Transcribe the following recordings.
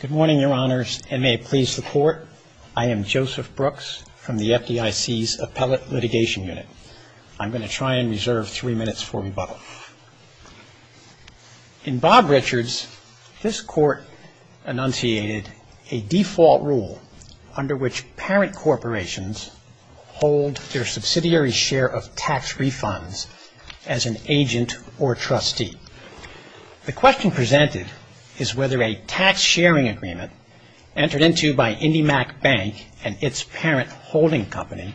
Good morning, Your Honors, and may it please the Court, I am Joseph Brooks from the FDIC's Appellate Litigation Unit. I'm going to try and reserve three minutes for rebuttal. In Bob Richards, this Court enunciated a default rule under which parent corporations hold their subsidiary share of tax refunds as an agent or trustee. The question presented is whether a tax-sharing agreement entered into by IndyMac Bank and its parent holding company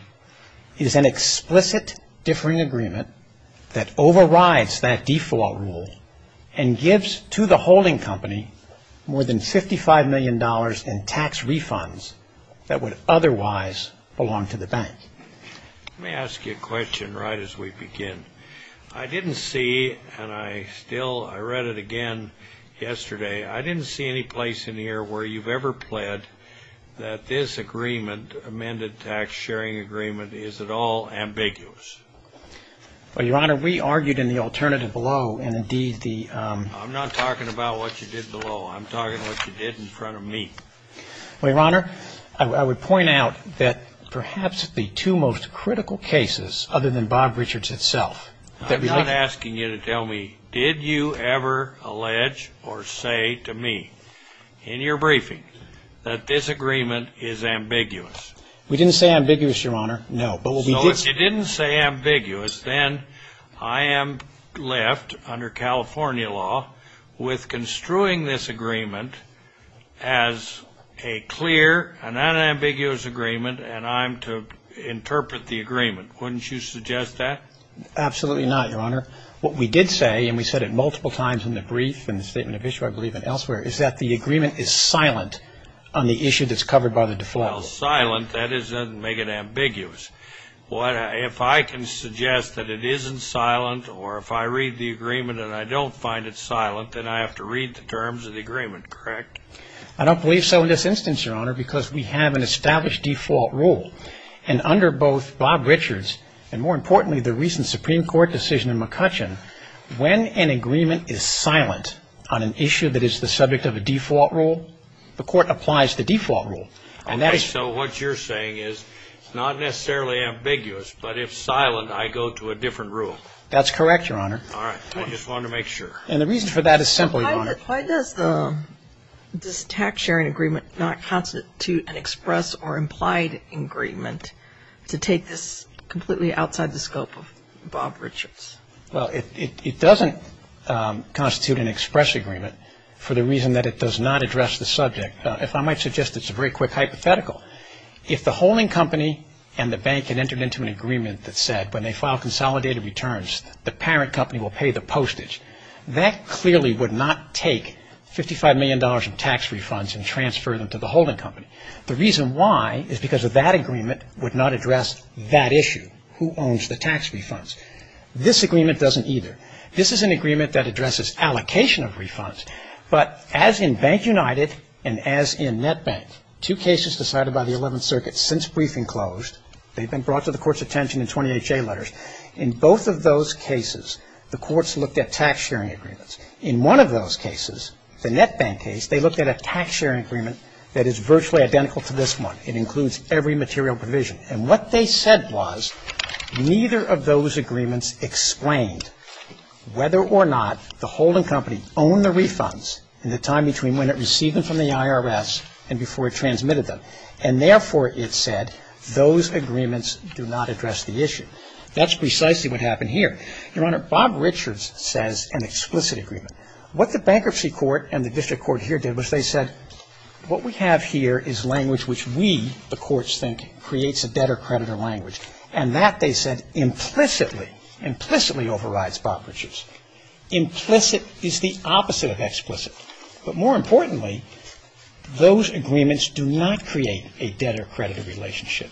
is an explicit differing agreement that overrides that default rule and gives to the holding company more than $55 million in tax refunds that would otherwise belong to the bank. Let me ask you a question right as we begin. I didn't see, and I still, I read it again yesterday, I didn't see any place in here where you've ever pled that this agreement, amended tax-sharing agreement, is at all ambiguous. Well, Your Honor, we argued in the alternative below, and indeed the I'm not talking about what you did below, I'm talking about what you did in front of me. Well, Your Honor, I would point out that perhaps the two most critical cases other than Bob Richards itself I'm not asking you to tell me, did you ever allege or say to me in your briefing that this agreement is ambiguous? We didn't say ambiguous, Your Honor, no. So if you didn't say ambiguous, then I am left, under California law, with construing this agreement as a clear and unambiguous agreement and I'm to interpret the agreement. Wouldn't you suggest that? Absolutely not, Your Honor. What we did say, and we said it multiple times in the brief and the statement of issue, I believe, and elsewhere, is that the agreement is silent on the issue that's covered by the default rule. Well, silent, that doesn't make it ambiguous. If I can suggest that it isn't silent or if I read the agreement and I don't find it silent, then I have to read the terms of the agreement, correct? I don't believe so in this instance, Your Honor, because we have an established default rule. And under both Bob Richards and, more importantly, the recent Supreme Court decision in McCutcheon, when an agreement is silent on an issue that is the subject of a default rule, the court applies the default rule. All right. So what you're saying is it's not necessarily ambiguous, but if silent, I go to a different rule. That's correct, Your Honor. All right. I just wanted to make sure. And the reason for that is simple, Your Honor. Why does this tax-sharing agreement not constitute an express or implied agreement to take this completely outside the scope of Bob Richards? Well, it doesn't constitute an express agreement for the reason that it does not address the subject. If I might suggest, it's a very quick hypothetical. If the holding company and the bank had entered into an agreement that said, when they file consolidated returns, the parent company will pay the postage, that clearly would not take $55 million in tax refunds and transfer them to the holding company. The reason why is because that agreement would not address that issue, who owns the tax refunds. This agreement doesn't either. This is an agreement that addresses allocation of refunds. But as in Bank United and as in NetBank, two cases decided by the 11th Circuit since briefing closed, they've been brought to the Court's attention in 20HA letters. In both of those cases, the courts looked at tax-sharing agreements. In one of those cases, the NetBank case, they looked at a tax-sharing agreement that is virtually identical to this one. It includes every material provision. And what they said was neither of those agreements explained whether or not the holding company owned the refunds in the time between when it received them from the IRS and before it transmitted them. And therefore, it said, those agreements do not address the issue. That's precisely what happened here. Your Honor, Bob Richards says an explicit agreement. What the Bankruptcy Court and the district court here did was they said, what we have here is language which we, the courts think, creates a debtor-creditor language. And that, they said, implicitly, implicitly overrides Bob Richards. Implicit is the opposite of explicit. But more importantly, those agreements do not create a debtor-creditor relationship.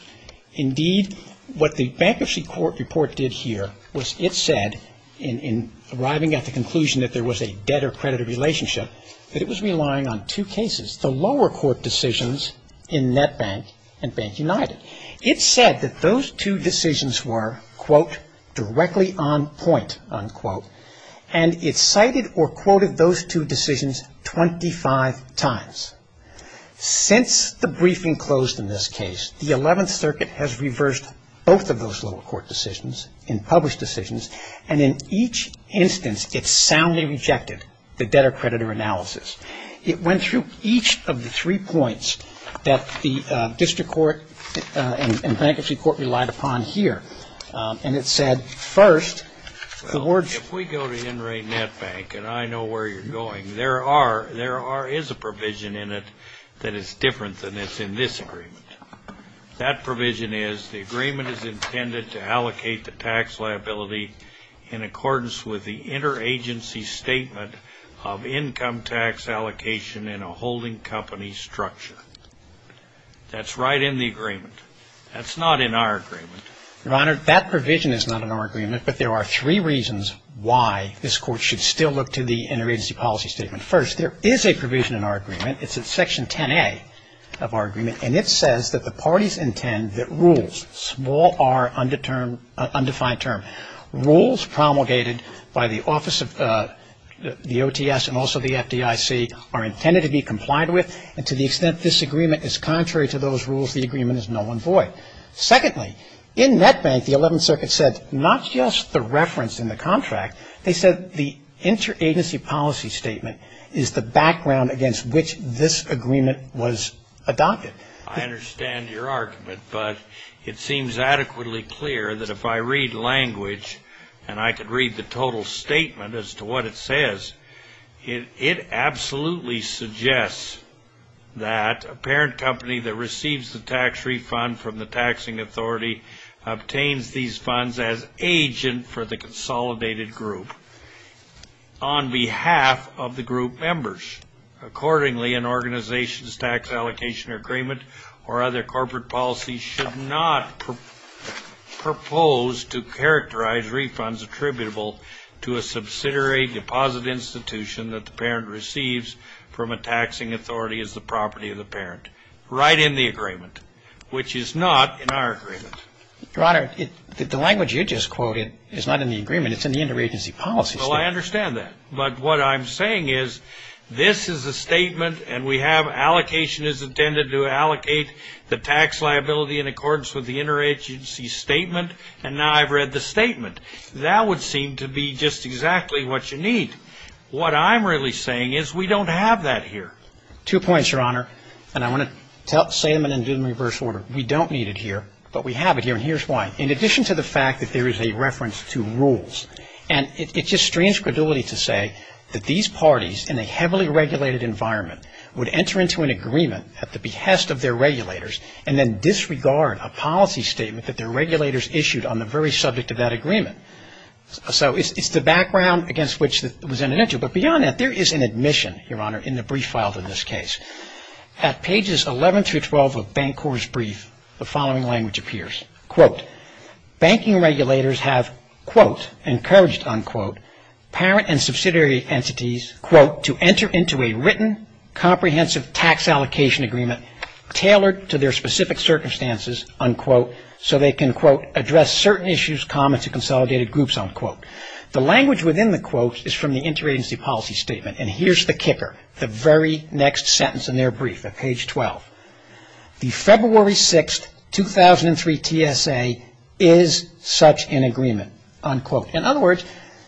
Indeed, what the Bankruptcy Court report did here was it said in arriving at the conclusion that there was a debtor-creditor relationship, that it was relying on two cases, the lower court decisions in NetBank and Bank United. It said that those two decisions were, quote, directly on point, unquote. And it cited or quoted those two decisions 25 times. Since the briefing closed in this case, the 11th Circuit has reversed both of those lower court decisions and published decisions, and in each instance, it soundly rejected the debtor-creditor analysis. It went through each of the three points that the district court and Bankruptcy Court relied upon here. And it said, first, the words. Well, if we go to Henry NetBank, and I know where you're going, there are, there is a provision in it that is different than is in this agreement. That provision is the agreement is intended to allocate the tax liability in accordance with the interagency statement of income tax allocation in a holding company structure. That's right in the agreement. That's not in our agreement. Your Honor, that provision is not in our agreement, but there are three reasons why this Court should still look to the interagency policy statement. First, there is a provision in our agreement. It's in Section 10A of our agreement, and it says that the parties intend that rules, small r undetermined, undefined term. Rules promulgated by the Office of the OTS and also the FDIC are intended to be complied with, and to the extent this agreement is contrary to those rules, the agreement is null and void. Secondly, in NetBank, the 11th Circuit said not just the reference in the contract. They said the interagency policy statement is the background against which this agreement was adopted. I understand your argument, but it seems adequately clear that if I read language and I could read the total statement as to what it says, it absolutely suggests that a parent company that receives the tax refund from the taxing authority obtains these funds as agent for the consolidated group on behalf of the group members. Accordingly, an organization's tax allocation agreement or other corporate policy should not propose to characterize refunds attributable to a subsidiary deposit institution that the parent receives from a taxing authority as the property of the parent. I would argue that this is a statement that is intended to allocate the tax liability in accordance with the interagency statement right in the agreement, which is not in our agreement. Your Honor, the language you just quoted is not in the agreement. It's in the interagency policy statement. Well, I understand that. But what I'm saying is this is a statement and we have allocation is intended to allocate the tax liability in accordance with the interagency statement, and now I've read the statement. That would seem to be just exactly what you need. What I'm really saying is we don't have that here. Two points, Your Honor, and I want to say them in reverse order. We don't need it here, but we have it here, and here's why. In addition to the fact that there is a reference to rules, and it's just strange credulity to say that these parties in a heavily regulated environment would enter into an agreement at the behest of their regulators and then disregard a policy statement that their regulators issued on the very subject of that agreement. So it's the background against which it was intended to. But beyond that, there is an admission, Your Honor, in the brief filed in this case. At pages 11 through 12 of Bancor's brief, the following language appears. Quote, banking regulators have, quote, encouraged, unquote, parent and subsidiary entities, quote, to enter into a written comprehensive tax allocation agreement tailored to their specific circumstances, unquote, so they can, quote, address certain issues common to consolidated groups, unquote. The language within the quotes is from the interagency policy statement, and here's the kicker, the very next sentence in their brief at page 12. The February 6, 2003, TSA is such an agreement, unquote. In other words,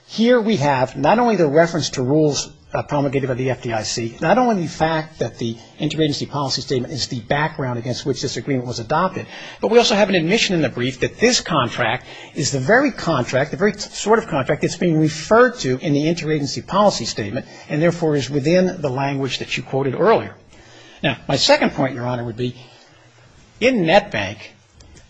here we have not only the reference to rules promulgated by the FDIC, not only the fact that the interagency policy statement is the background against which this agreement was adopted, but we also have an admission in the brief that this contract is the very contract, the very sort of contract that's being referred to in the interagency policy statement and therefore is within the language that you quoted earlier. Now, my second point, Your Honor, would be in NetBank,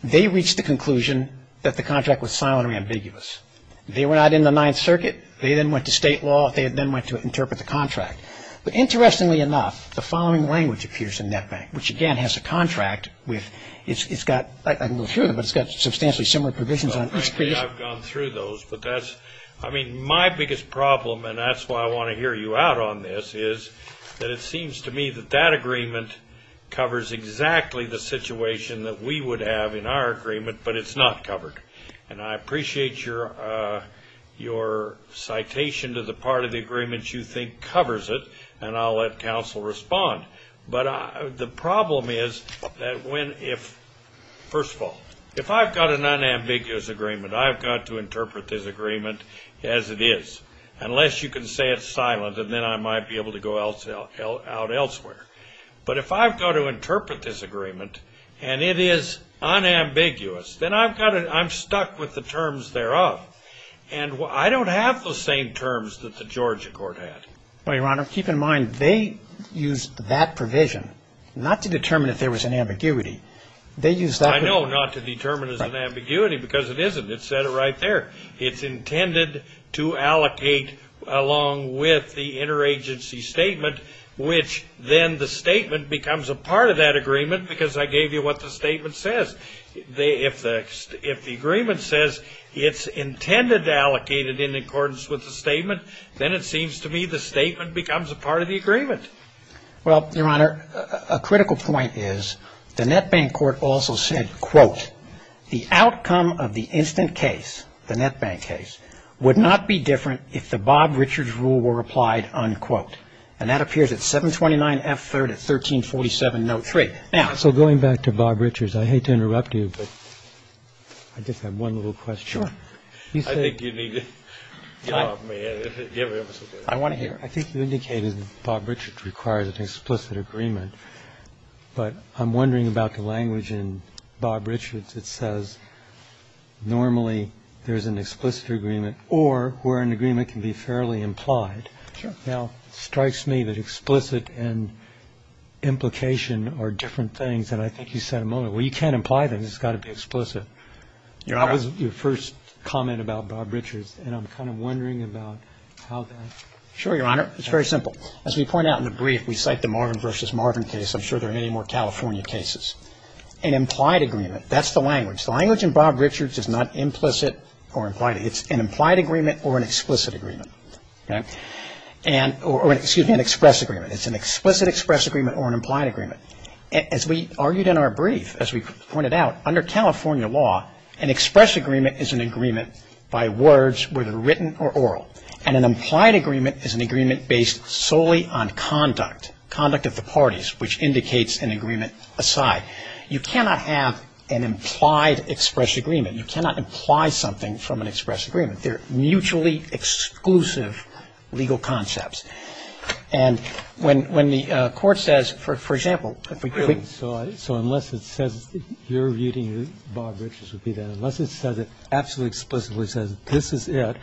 they reached the conclusion that the contract was silently ambiguous. They were not in the Ninth Circuit. They then went to state law. They then went to interpret the contract. But interestingly enough, the following language appears in NetBank, which, again, has a contract with, it's got, I'm not sure, but it's got substantially similar provisions on each page. I've gone through those, but that's, I mean, my biggest problem, and that's why I want to hear you out on this is that it seems to me that that agreement covers exactly the situation that we would have in our agreement, but it's not covered. And I appreciate your citation to the part of the agreement you think covers it, and I'll let counsel respond. But the problem is that when, if, first of all, if I've got an unambiguous agreement, I've got to interpret this agreement as it is, unless you can say it's silent, and then I might be able to go out elsewhere. But if I've got to interpret this agreement and it is unambiguous, then I've got to, I'm stuck with the terms thereof, and I don't have the same terms that the Georgia court had. Well, Your Honor, keep in mind, they used that provision not to determine if there was an ambiguity. They used that provision. I know, not to determine if there was an ambiguity, because it isn't. It said it right there. It's intended to allocate along with the interagency statement, which then the statement becomes a part of that agreement because I gave you what the statement says. If the agreement says it's intended to allocate it in accordance with the statement, then it seems to me the statement becomes a part of the agreement. Well, Your Honor, a critical point is the Netbank court also said, quote, the outcome of the instant case, the Netbank case, would not be different if the Bob Richards rule were applied, unquote. And that appears at 729 F. 3rd at 1347 note 3. Now so going back to Bob Richards, I hate to interrupt you, but I just have one little question. I think you need to get off my head. I want to hear it. I think you indicated Bob Richards requires an explicit agreement, but I'm wondering about the language in Bob Richards that says normally there's an explicit agreement or where an agreement can be fairly implied. Sure. Now, it strikes me that explicit and implication are different things than I think you said a moment ago. Well, you can't imply them. It's got to be explicit. Your Honor. That was your first comment about Bob Richards, and I'm kind of wondering about how that. Sure, Your Honor. It's very simple. As we point out in the brief, we cite the Marvin v. Marvin case. I'm sure there are many more California cases. An implied agreement, that's the language. The language in Bob Richards is not implicit or implied. It's an implied agreement or an explicit agreement. Or excuse me, an express agreement. It's an explicit express agreement or an implied agreement. As we argued in our brief, as we pointed out, under California law, an express agreement is an agreement by words, whether written or oral, and an implied agreement is an agreement based solely on conduct, conduct of the parties, which indicates an agreement aside. You cannot have an implied express agreement. You cannot imply something from an express agreement. They're mutually exclusive legal concepts. And when the Court says, for example, if we could. So unless it says you're reading Bob Richards, unless it says it absolutely explicitly says this is it,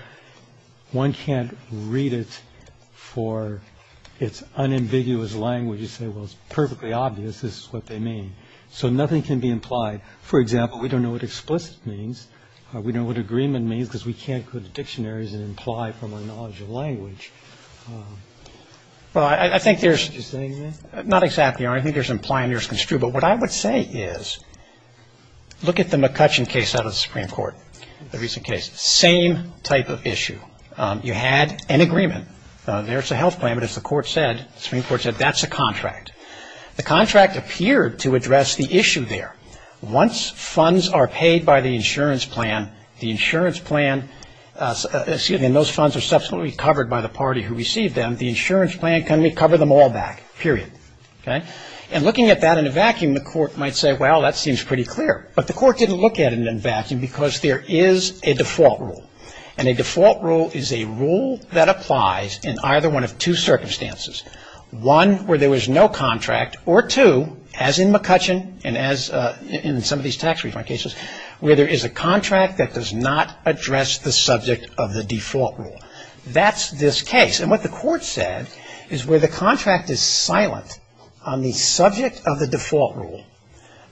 one can't read it for its unambiguous language and say, well, it's perfectly obvious this is what they mean. So nothing can be implied. For example, we don't know what explicit means. We don't know what agreement means because we can't go to dictionaries and imply from our knowledge of language. Well, I think there's. Excuse me. Not exactly. I think there's implied and there's construed. But what I would say is look at the McCutcheon case out of the Supreme Court, the recent case. Same type of issue. You had an agreement. There's a health plan, but as the Supreme Court said, that's a contract. The contract appeared to address the issue there. Once funds are paid by the insurance plan, the insurance plan, excuse me, and those funds are subsequently covered by the party who received them, the insurance plan can recover them all back, period. Okay? And looking at that in a vacuum, the court might say, well, that seems pretty clear. But the court didn't look at it in a vacuum because there is a default rule. And a default rule is a rule that applies in either one of two circumstances. One, where there was no contract, or two, as in McCutcheon and as in some of these tax refund cases, where there is a contract that does not address the subject of the default rule. That's this case. And what the court said is where the contract is silent on the subject of the default rule,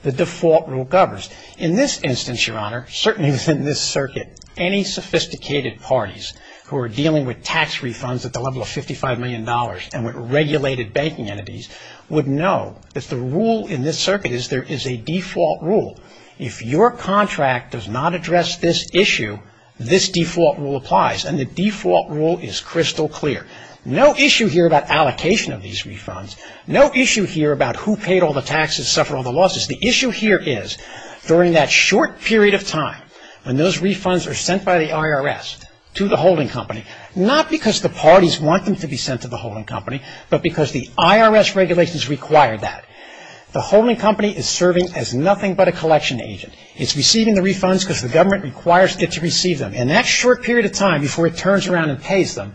the default rule governs. In this instance, Your Honor, certainly within this circuit, any sophisticated parties who are dealing with tax refunds at the level of $55 million and with regulated banking entities would know that the rule in this circuit is there is a default rule. If your contract does not address this issue, this default rule applies. And the default rule is crystal clear. No issue here about allocation of these refunds. No issue here about who paid all the taxes, suffered all the losses. The issue here is during that short period of time when those refunds are sent by the IRS to the holding company, not because the parties want them to be sent to the holding company, but because the IRS regulations require that. The holding company is serving as nothing but a collection agent. It's receiving the refunds because the government requires it to receive them. And that short period of time before it turns around and pays them,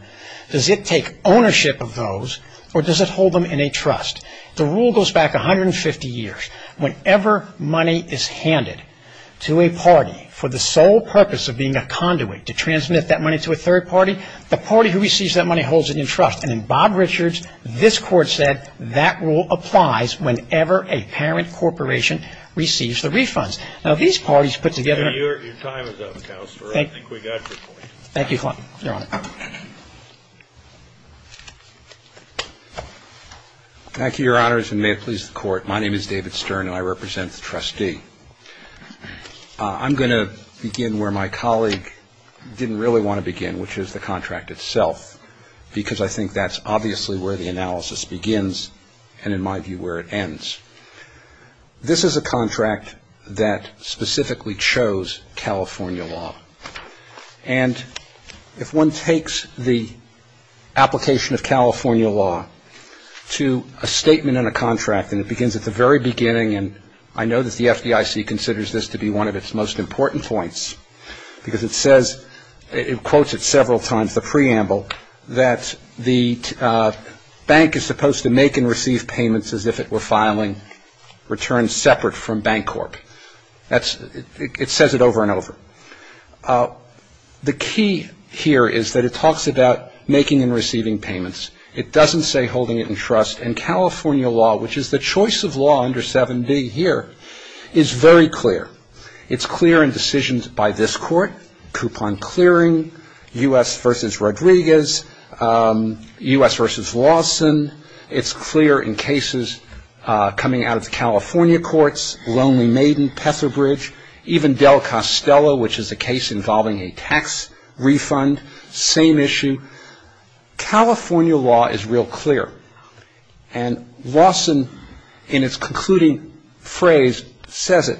does it take ownership of those or does it hold them in a trust? The rule goes back 150 years. Whenever money is handed to a party for the sole purpose of being a conduit to transmit that money to a third party, the party who receives that money holds it in trust. And in Bob Richards, this court said that rule applies whenever a parent corporation receives the refunds. Now, these parties put together ñ Your time is up, Counselor. I think we got your point. Thank you, Your Honor. Thank you, Your Honors, and may it please the Court. My name is David Stern and I represent the trustee. I'm going to begin where my colleague didn't really want to begin, which is the contract itself, because I think that's obviously where the analysis begins and, in my view, where it ends. This is a contract that specifically chose California law. And if one takes the application of California law to a statement in a contract, and it begins at the very beginning, and I know that the FDIC considers this to be one of its most important points because it says ñ it quotes it several times, the preamble, that the bank is supposed to make and receive payments as if it were filing returns separate from Bancorp. It says it over and over. The key here is that it talks about making and receiving payments. It doesn't say holding it in trust. And California law, which is the choice of law under 7B here, is very clear. It's clear in decisions by this Court, coupon clearing, U.S. v. Rodriguez, U.S. v. Lawson. It's clear in cases coming out of the California courts, Lonely Maiden, Petherbridge, even Del Costello, which is a case involving a tax refund, same issue. California law is real clear. And Lawson, in its concluding phrase, says it,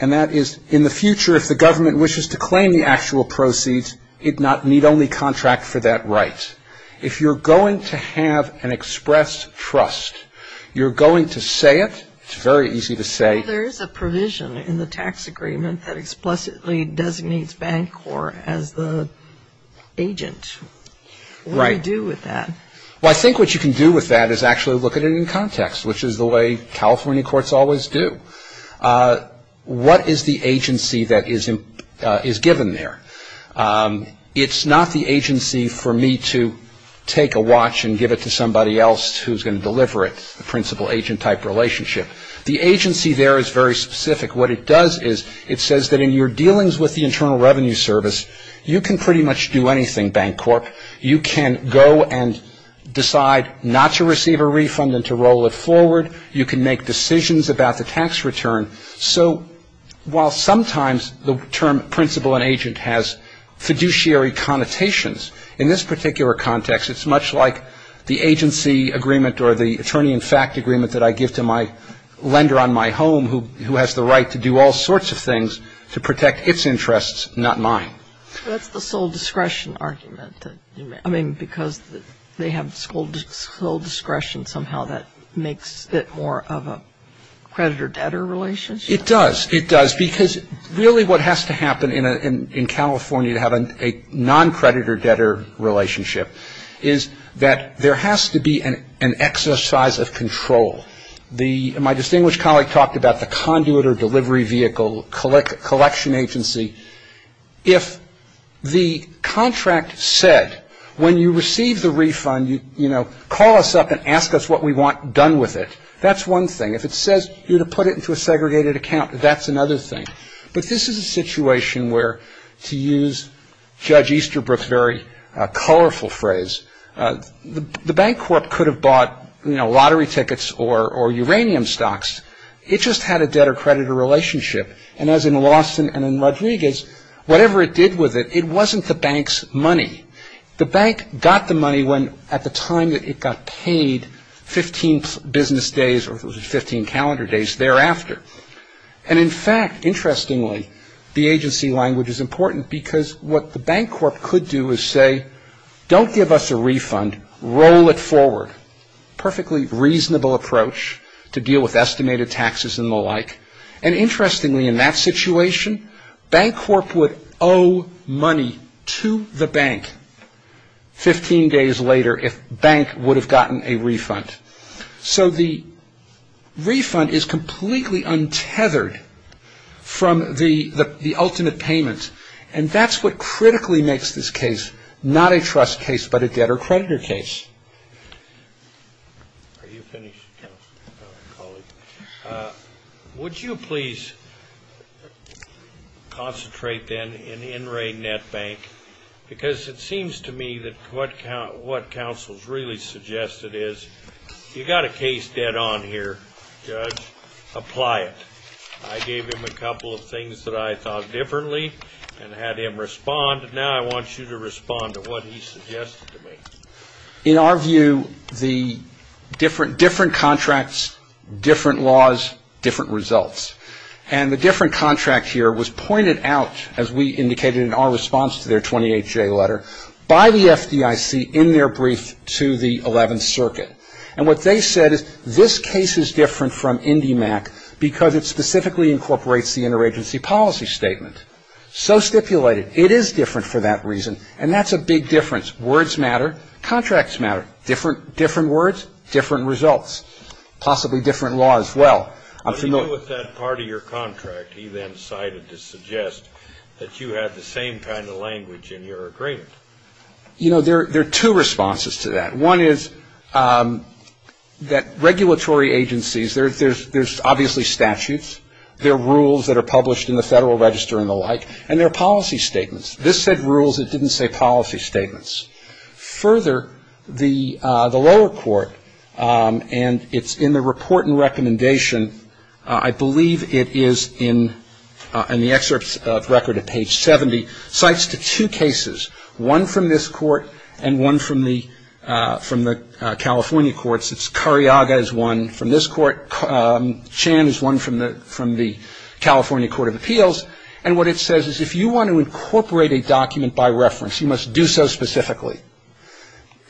and that is, in the future if the government wishes to claim the actual proceeds, it need only contract for that right. If you're going to have an expressed trust, you're going to say it. It's very easy to say. There is a provision in the tax agreement that explicitly designates Bancorp as the agent. Right. What do you do with that? Well, I think what you can do with that is actually look at it in context, which is the way California courts always do. What is the agency that is given there? It's not the agency for me to take a watch and give it to somebody else who's going to deliver it, the principal agent type relationship. The agency there is very specific. What it does is it says that in your dealings with the Internal Revenue Service, you can pretty much do anything, Bancorp. You can go and decide not to receive a refund and to roll it forward. You can make decisions about the tax return. So while sometimes the term principal and agent has fiduciary connotations, in this particular context it's much like the agency agreement or the attorney-in-fact agreement that I give to my lender on my home who has the right to do all sorts of things to protect its interests, not mine. That's the sole discretion argument. I mean, because they have sole discretion somehow that makes it more of a creditor-debtor relationship? It does. It does because really what has to happen in California to have a non-creditor-debtor relationship is that there has to be an exercise of control. My distinguished colleague talked about the conduit or delivery vehicle collection agency. If the contract said when you receive the refund, you know, call us up and ask us what we want done with it, that's one thing. If it says you're to put it into a segregated account, that's another thing. But this is a situation where, to use Judge Easterbrook's very colorful phrase, the Bancorp could have bought, you know, lottery tickets or uranium stocks. It just had a debtor-creditor relationship. And as in Lawson and in Rodriguez, whatever it did with it, it wasn't the bank's money. The bank got the money when, at the time that it got paid, 15 business days or 15 calendar days thereafter. And in fact, interestingly, the agency language is important because what the Bancorp could do is say, don't give us a refund, roll it forward. Perfectly reasonable approach to deal with estimated taxes and the like. And interestingly, in that situation, Bancorp would owe money to the bank 15 days later if bank would have gotten a refund. So the refund is completely untethered from the ultimate payment. And that's what critically makes this case not a trust case but a debtor-creditor case. Are you finished? No. All right, colleague. Would you please concentrate, then, in In re Net Bank? Because it seems to me that what counsel has really suggested is you've got a case dead on here, Judge. Apply it. I gave him a couple of things that I thought differently and had him respond. Now I want you to respond to what he suggested to me. In our view, the different contracts, different laws, different results. And the different contract here was pointed out, as we indicated in our response to their 28-J letter, by the FDIC in their brief to the 11th Circuit. And what they said is this case is different from IndyMac because it specifically incorporates the interagency policy statement. So stipulated, it is different for that reason, and that's a big difference. Words matter. Contracts matter. Different words, different results. Possibly different laws. Well, I'm familiar with that. What do you do with that part of your contract he then cited to suggest that you have the same kind of language in your agreement? You know, there are two responses to that. One is that regulatory agencies, there's obviously statutes, there are rules that are published in the Federal Register and the like, and there are policy statements. This said rules. It didn't say policy statements. Further, the lower court, and it's in the report and recommendation, I believe it is in the excerpts of record at page 70, cites the two cases, one from this court and one from the California courts. It's Cariaga is one from this court. Chan is one from the California Court of Appeals. And what it says is if you want to incorporate a document by reference, you must do so specifically.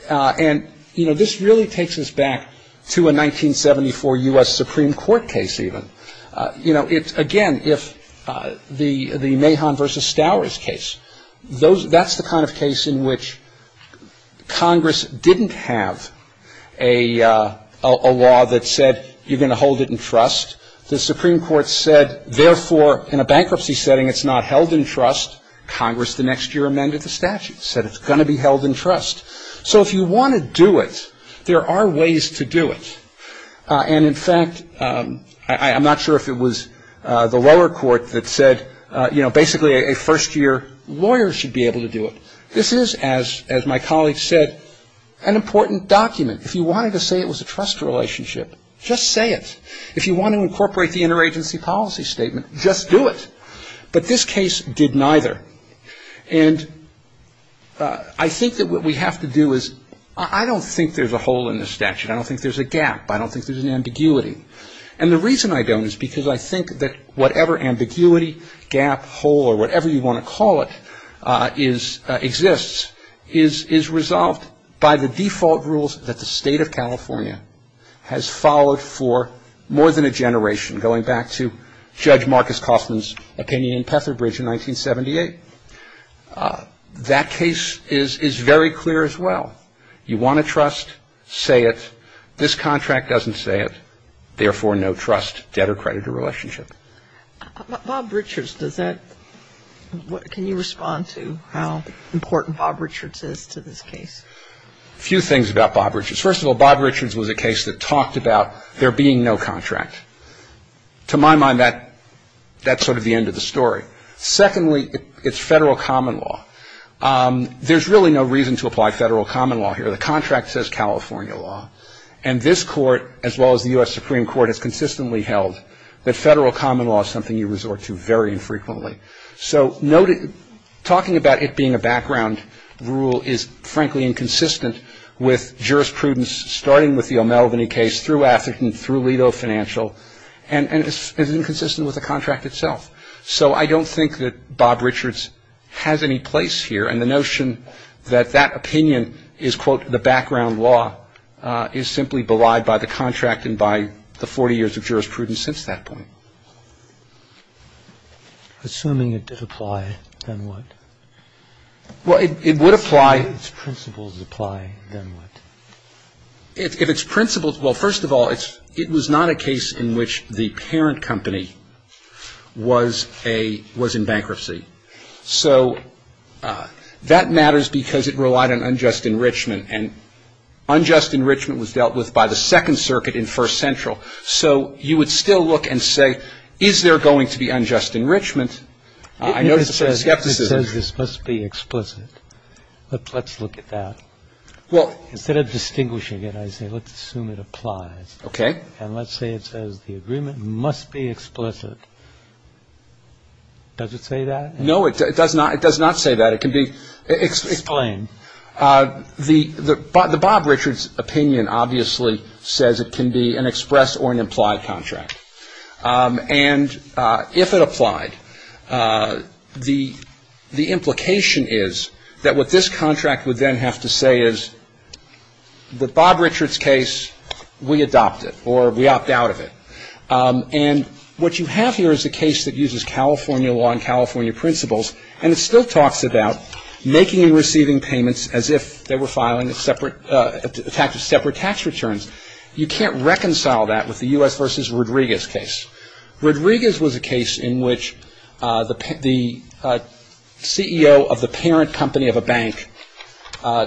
And, you know, this really takes us back to a 1974 U.S. Supreme Court case even. You know, again, if the Mahon v. Stowers case, that's the kind of case in which Congress didn't have a law that said you're going to hold it in trust. The Supreme Court said, therefore, in a bankruptcy setting, it's not held in trust. Congress the next year amended the statute, said it's going to be held in trust. So if you want to do it, there are ways to do it. And, in fact, I'm not sure if it was the lower court that said, you know, basically a first-year lawyer should be able to do it. This is, as my colleague said, an important document. If you wanted to say it was a trust relationship, just say it. If you want to incorporate the interagency policy statement, just do it. But this case did neither. And I think that what we have to do is I don't think there's a hole in this statute. I don't think there's a gap. I don't think there's an ambiguity. And the reason I don't is because I think that whatever ambiguity, gap, hole, or whatever you want to call it exists, is resolved by the default rules that the State of California has followed for more than a generation, going back to Judge Marcus Coffman's opinion in Petherbridge in 1978. That case is very clear as well. You want to trust, say it. This contract doesn't say it. Therefore, no trust, debt, or creditor relationship. Bob Richards, can you respond to how important Bob Richards is to this case? A few things about Bob Richards. First of all, Bob Richards was a case that talked about there being no contract. To my mind, that's sort of the end of the story. Secondly, it's federal common law. There's really no reason to apply federal common law here. The contract says California law. And this Court, as well as the U.S. Supreme Court, has consistently held that federal common law is something you resort to very infrequently. So talking about it being a background rule is, frankly, inconsistent with jurisprudence, starting with the O'Melveny case, through Atherton, through Leto Financial, and is inconsistent with the contract itself. So I don't think that Bob Richards has any place here, and the notion that that opinion is, quote, the background law, is simply belied by the contract and by the 40 years of jurisprudence since that point. Assuming it did apply, then what? Well, it would apply. Assuming its principles apply, then what? If its principles – well, first of all, it was not a case in which the parent company was a – was in bankruptcy. So that matters because it relied on unjust enrichment, and unjust enrichment was dealt with by the Second Circuit in First Central. So you would still look and say, is there going to be unjust enrichment? I notice a certain skepticism. It says this must be explicit. Let's look at that. Instead of distinguishing it, I say let's assume it applies. Okay. And let's say it says the agreement must be explicit. Does it say that? No, it does not. It does not say that. It can be explained. The Bob Richards opinion obviously says it can be an express or an implied contract. And if it applied, the implication is that what this contract would then have to say is, the Bob Richards case, we adopt it, or we opt out of it. And what you have here is a case that uses California law and California principles, and it still talks about making and receiving payments as if they were filing separate tax returns. You can't reconcile that with the U.S. v. Rodriguez case. Rodriguez was a case in which the CEO of the parent company of a bank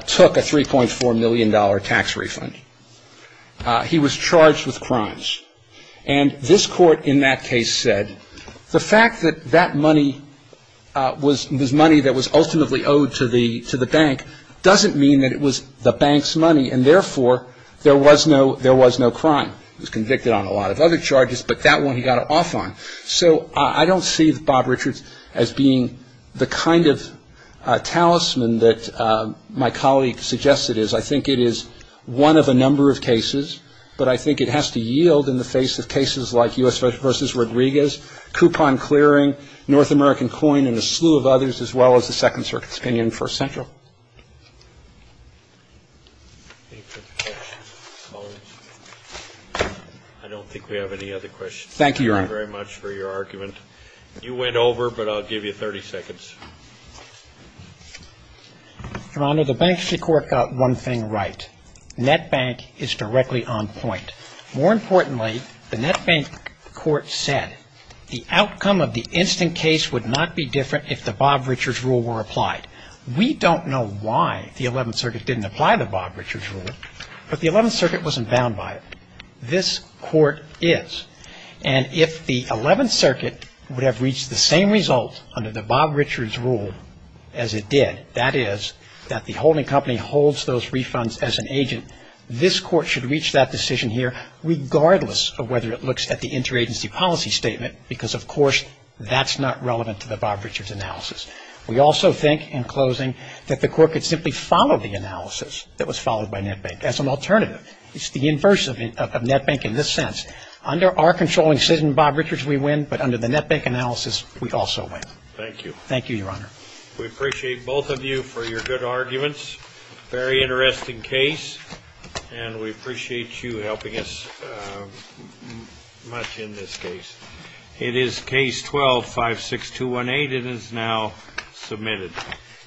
took a $3.4 million tax refund. He was charged with crimes. And this court in that case said the fact that that money was money that was ultimately owed to the bank doesn't mean that it was the bank's money, and therefore, there was no crime. He was convicted on a lot of other charges, but that one he got off on. So I don't see Bob Richards as being the kind of talisman that my colleague suggests it is. I think it is one of a number of cases, but I think it has to yield in the face of cases like U.S. v. Rodriguez, coupon clearing, North American coin, and a slew of others, as well as the Second Circuit's opinion in First Central. I don't think we have any other questions. Thank you, Your Honor. Thank you very much for your argument. You went over, but I'll give you 30 seconds. Your Honor, the Banksy court got one thing right. Net bank is directly on point. More importantly, the net bank court said the outcome of the instant case would not be different if the Bob Richards rule were applied. We don't know why the Eleventh Circuit didn't apply the Bob Richards rule, but the Eleventh Circuit wasn't bound by it. This court is. And if the Eleventh Circuit would have reached the same result under the Bob Richards rule as it did, that is that the holding company holds those refunds as an agent, this court should reach that decision here regardless of whether it looks at the interagency policy statement, because, of course, that's not relevant to the Bob Richards analysis. We also think, in closing, that the court could simply follow the analysis that was followed by net bank as an alternative. It's the inverse of net bank in this sense. Under our controlling decision, Bob Richards, we win, but under the net bank analysis, we also win. Thank you. Thank you, Your Honor. We appreciate both of you for your good arguments. Very interesting case, and we appreciate you helping us much in this case. It is Case 12-56218. It is now submitted.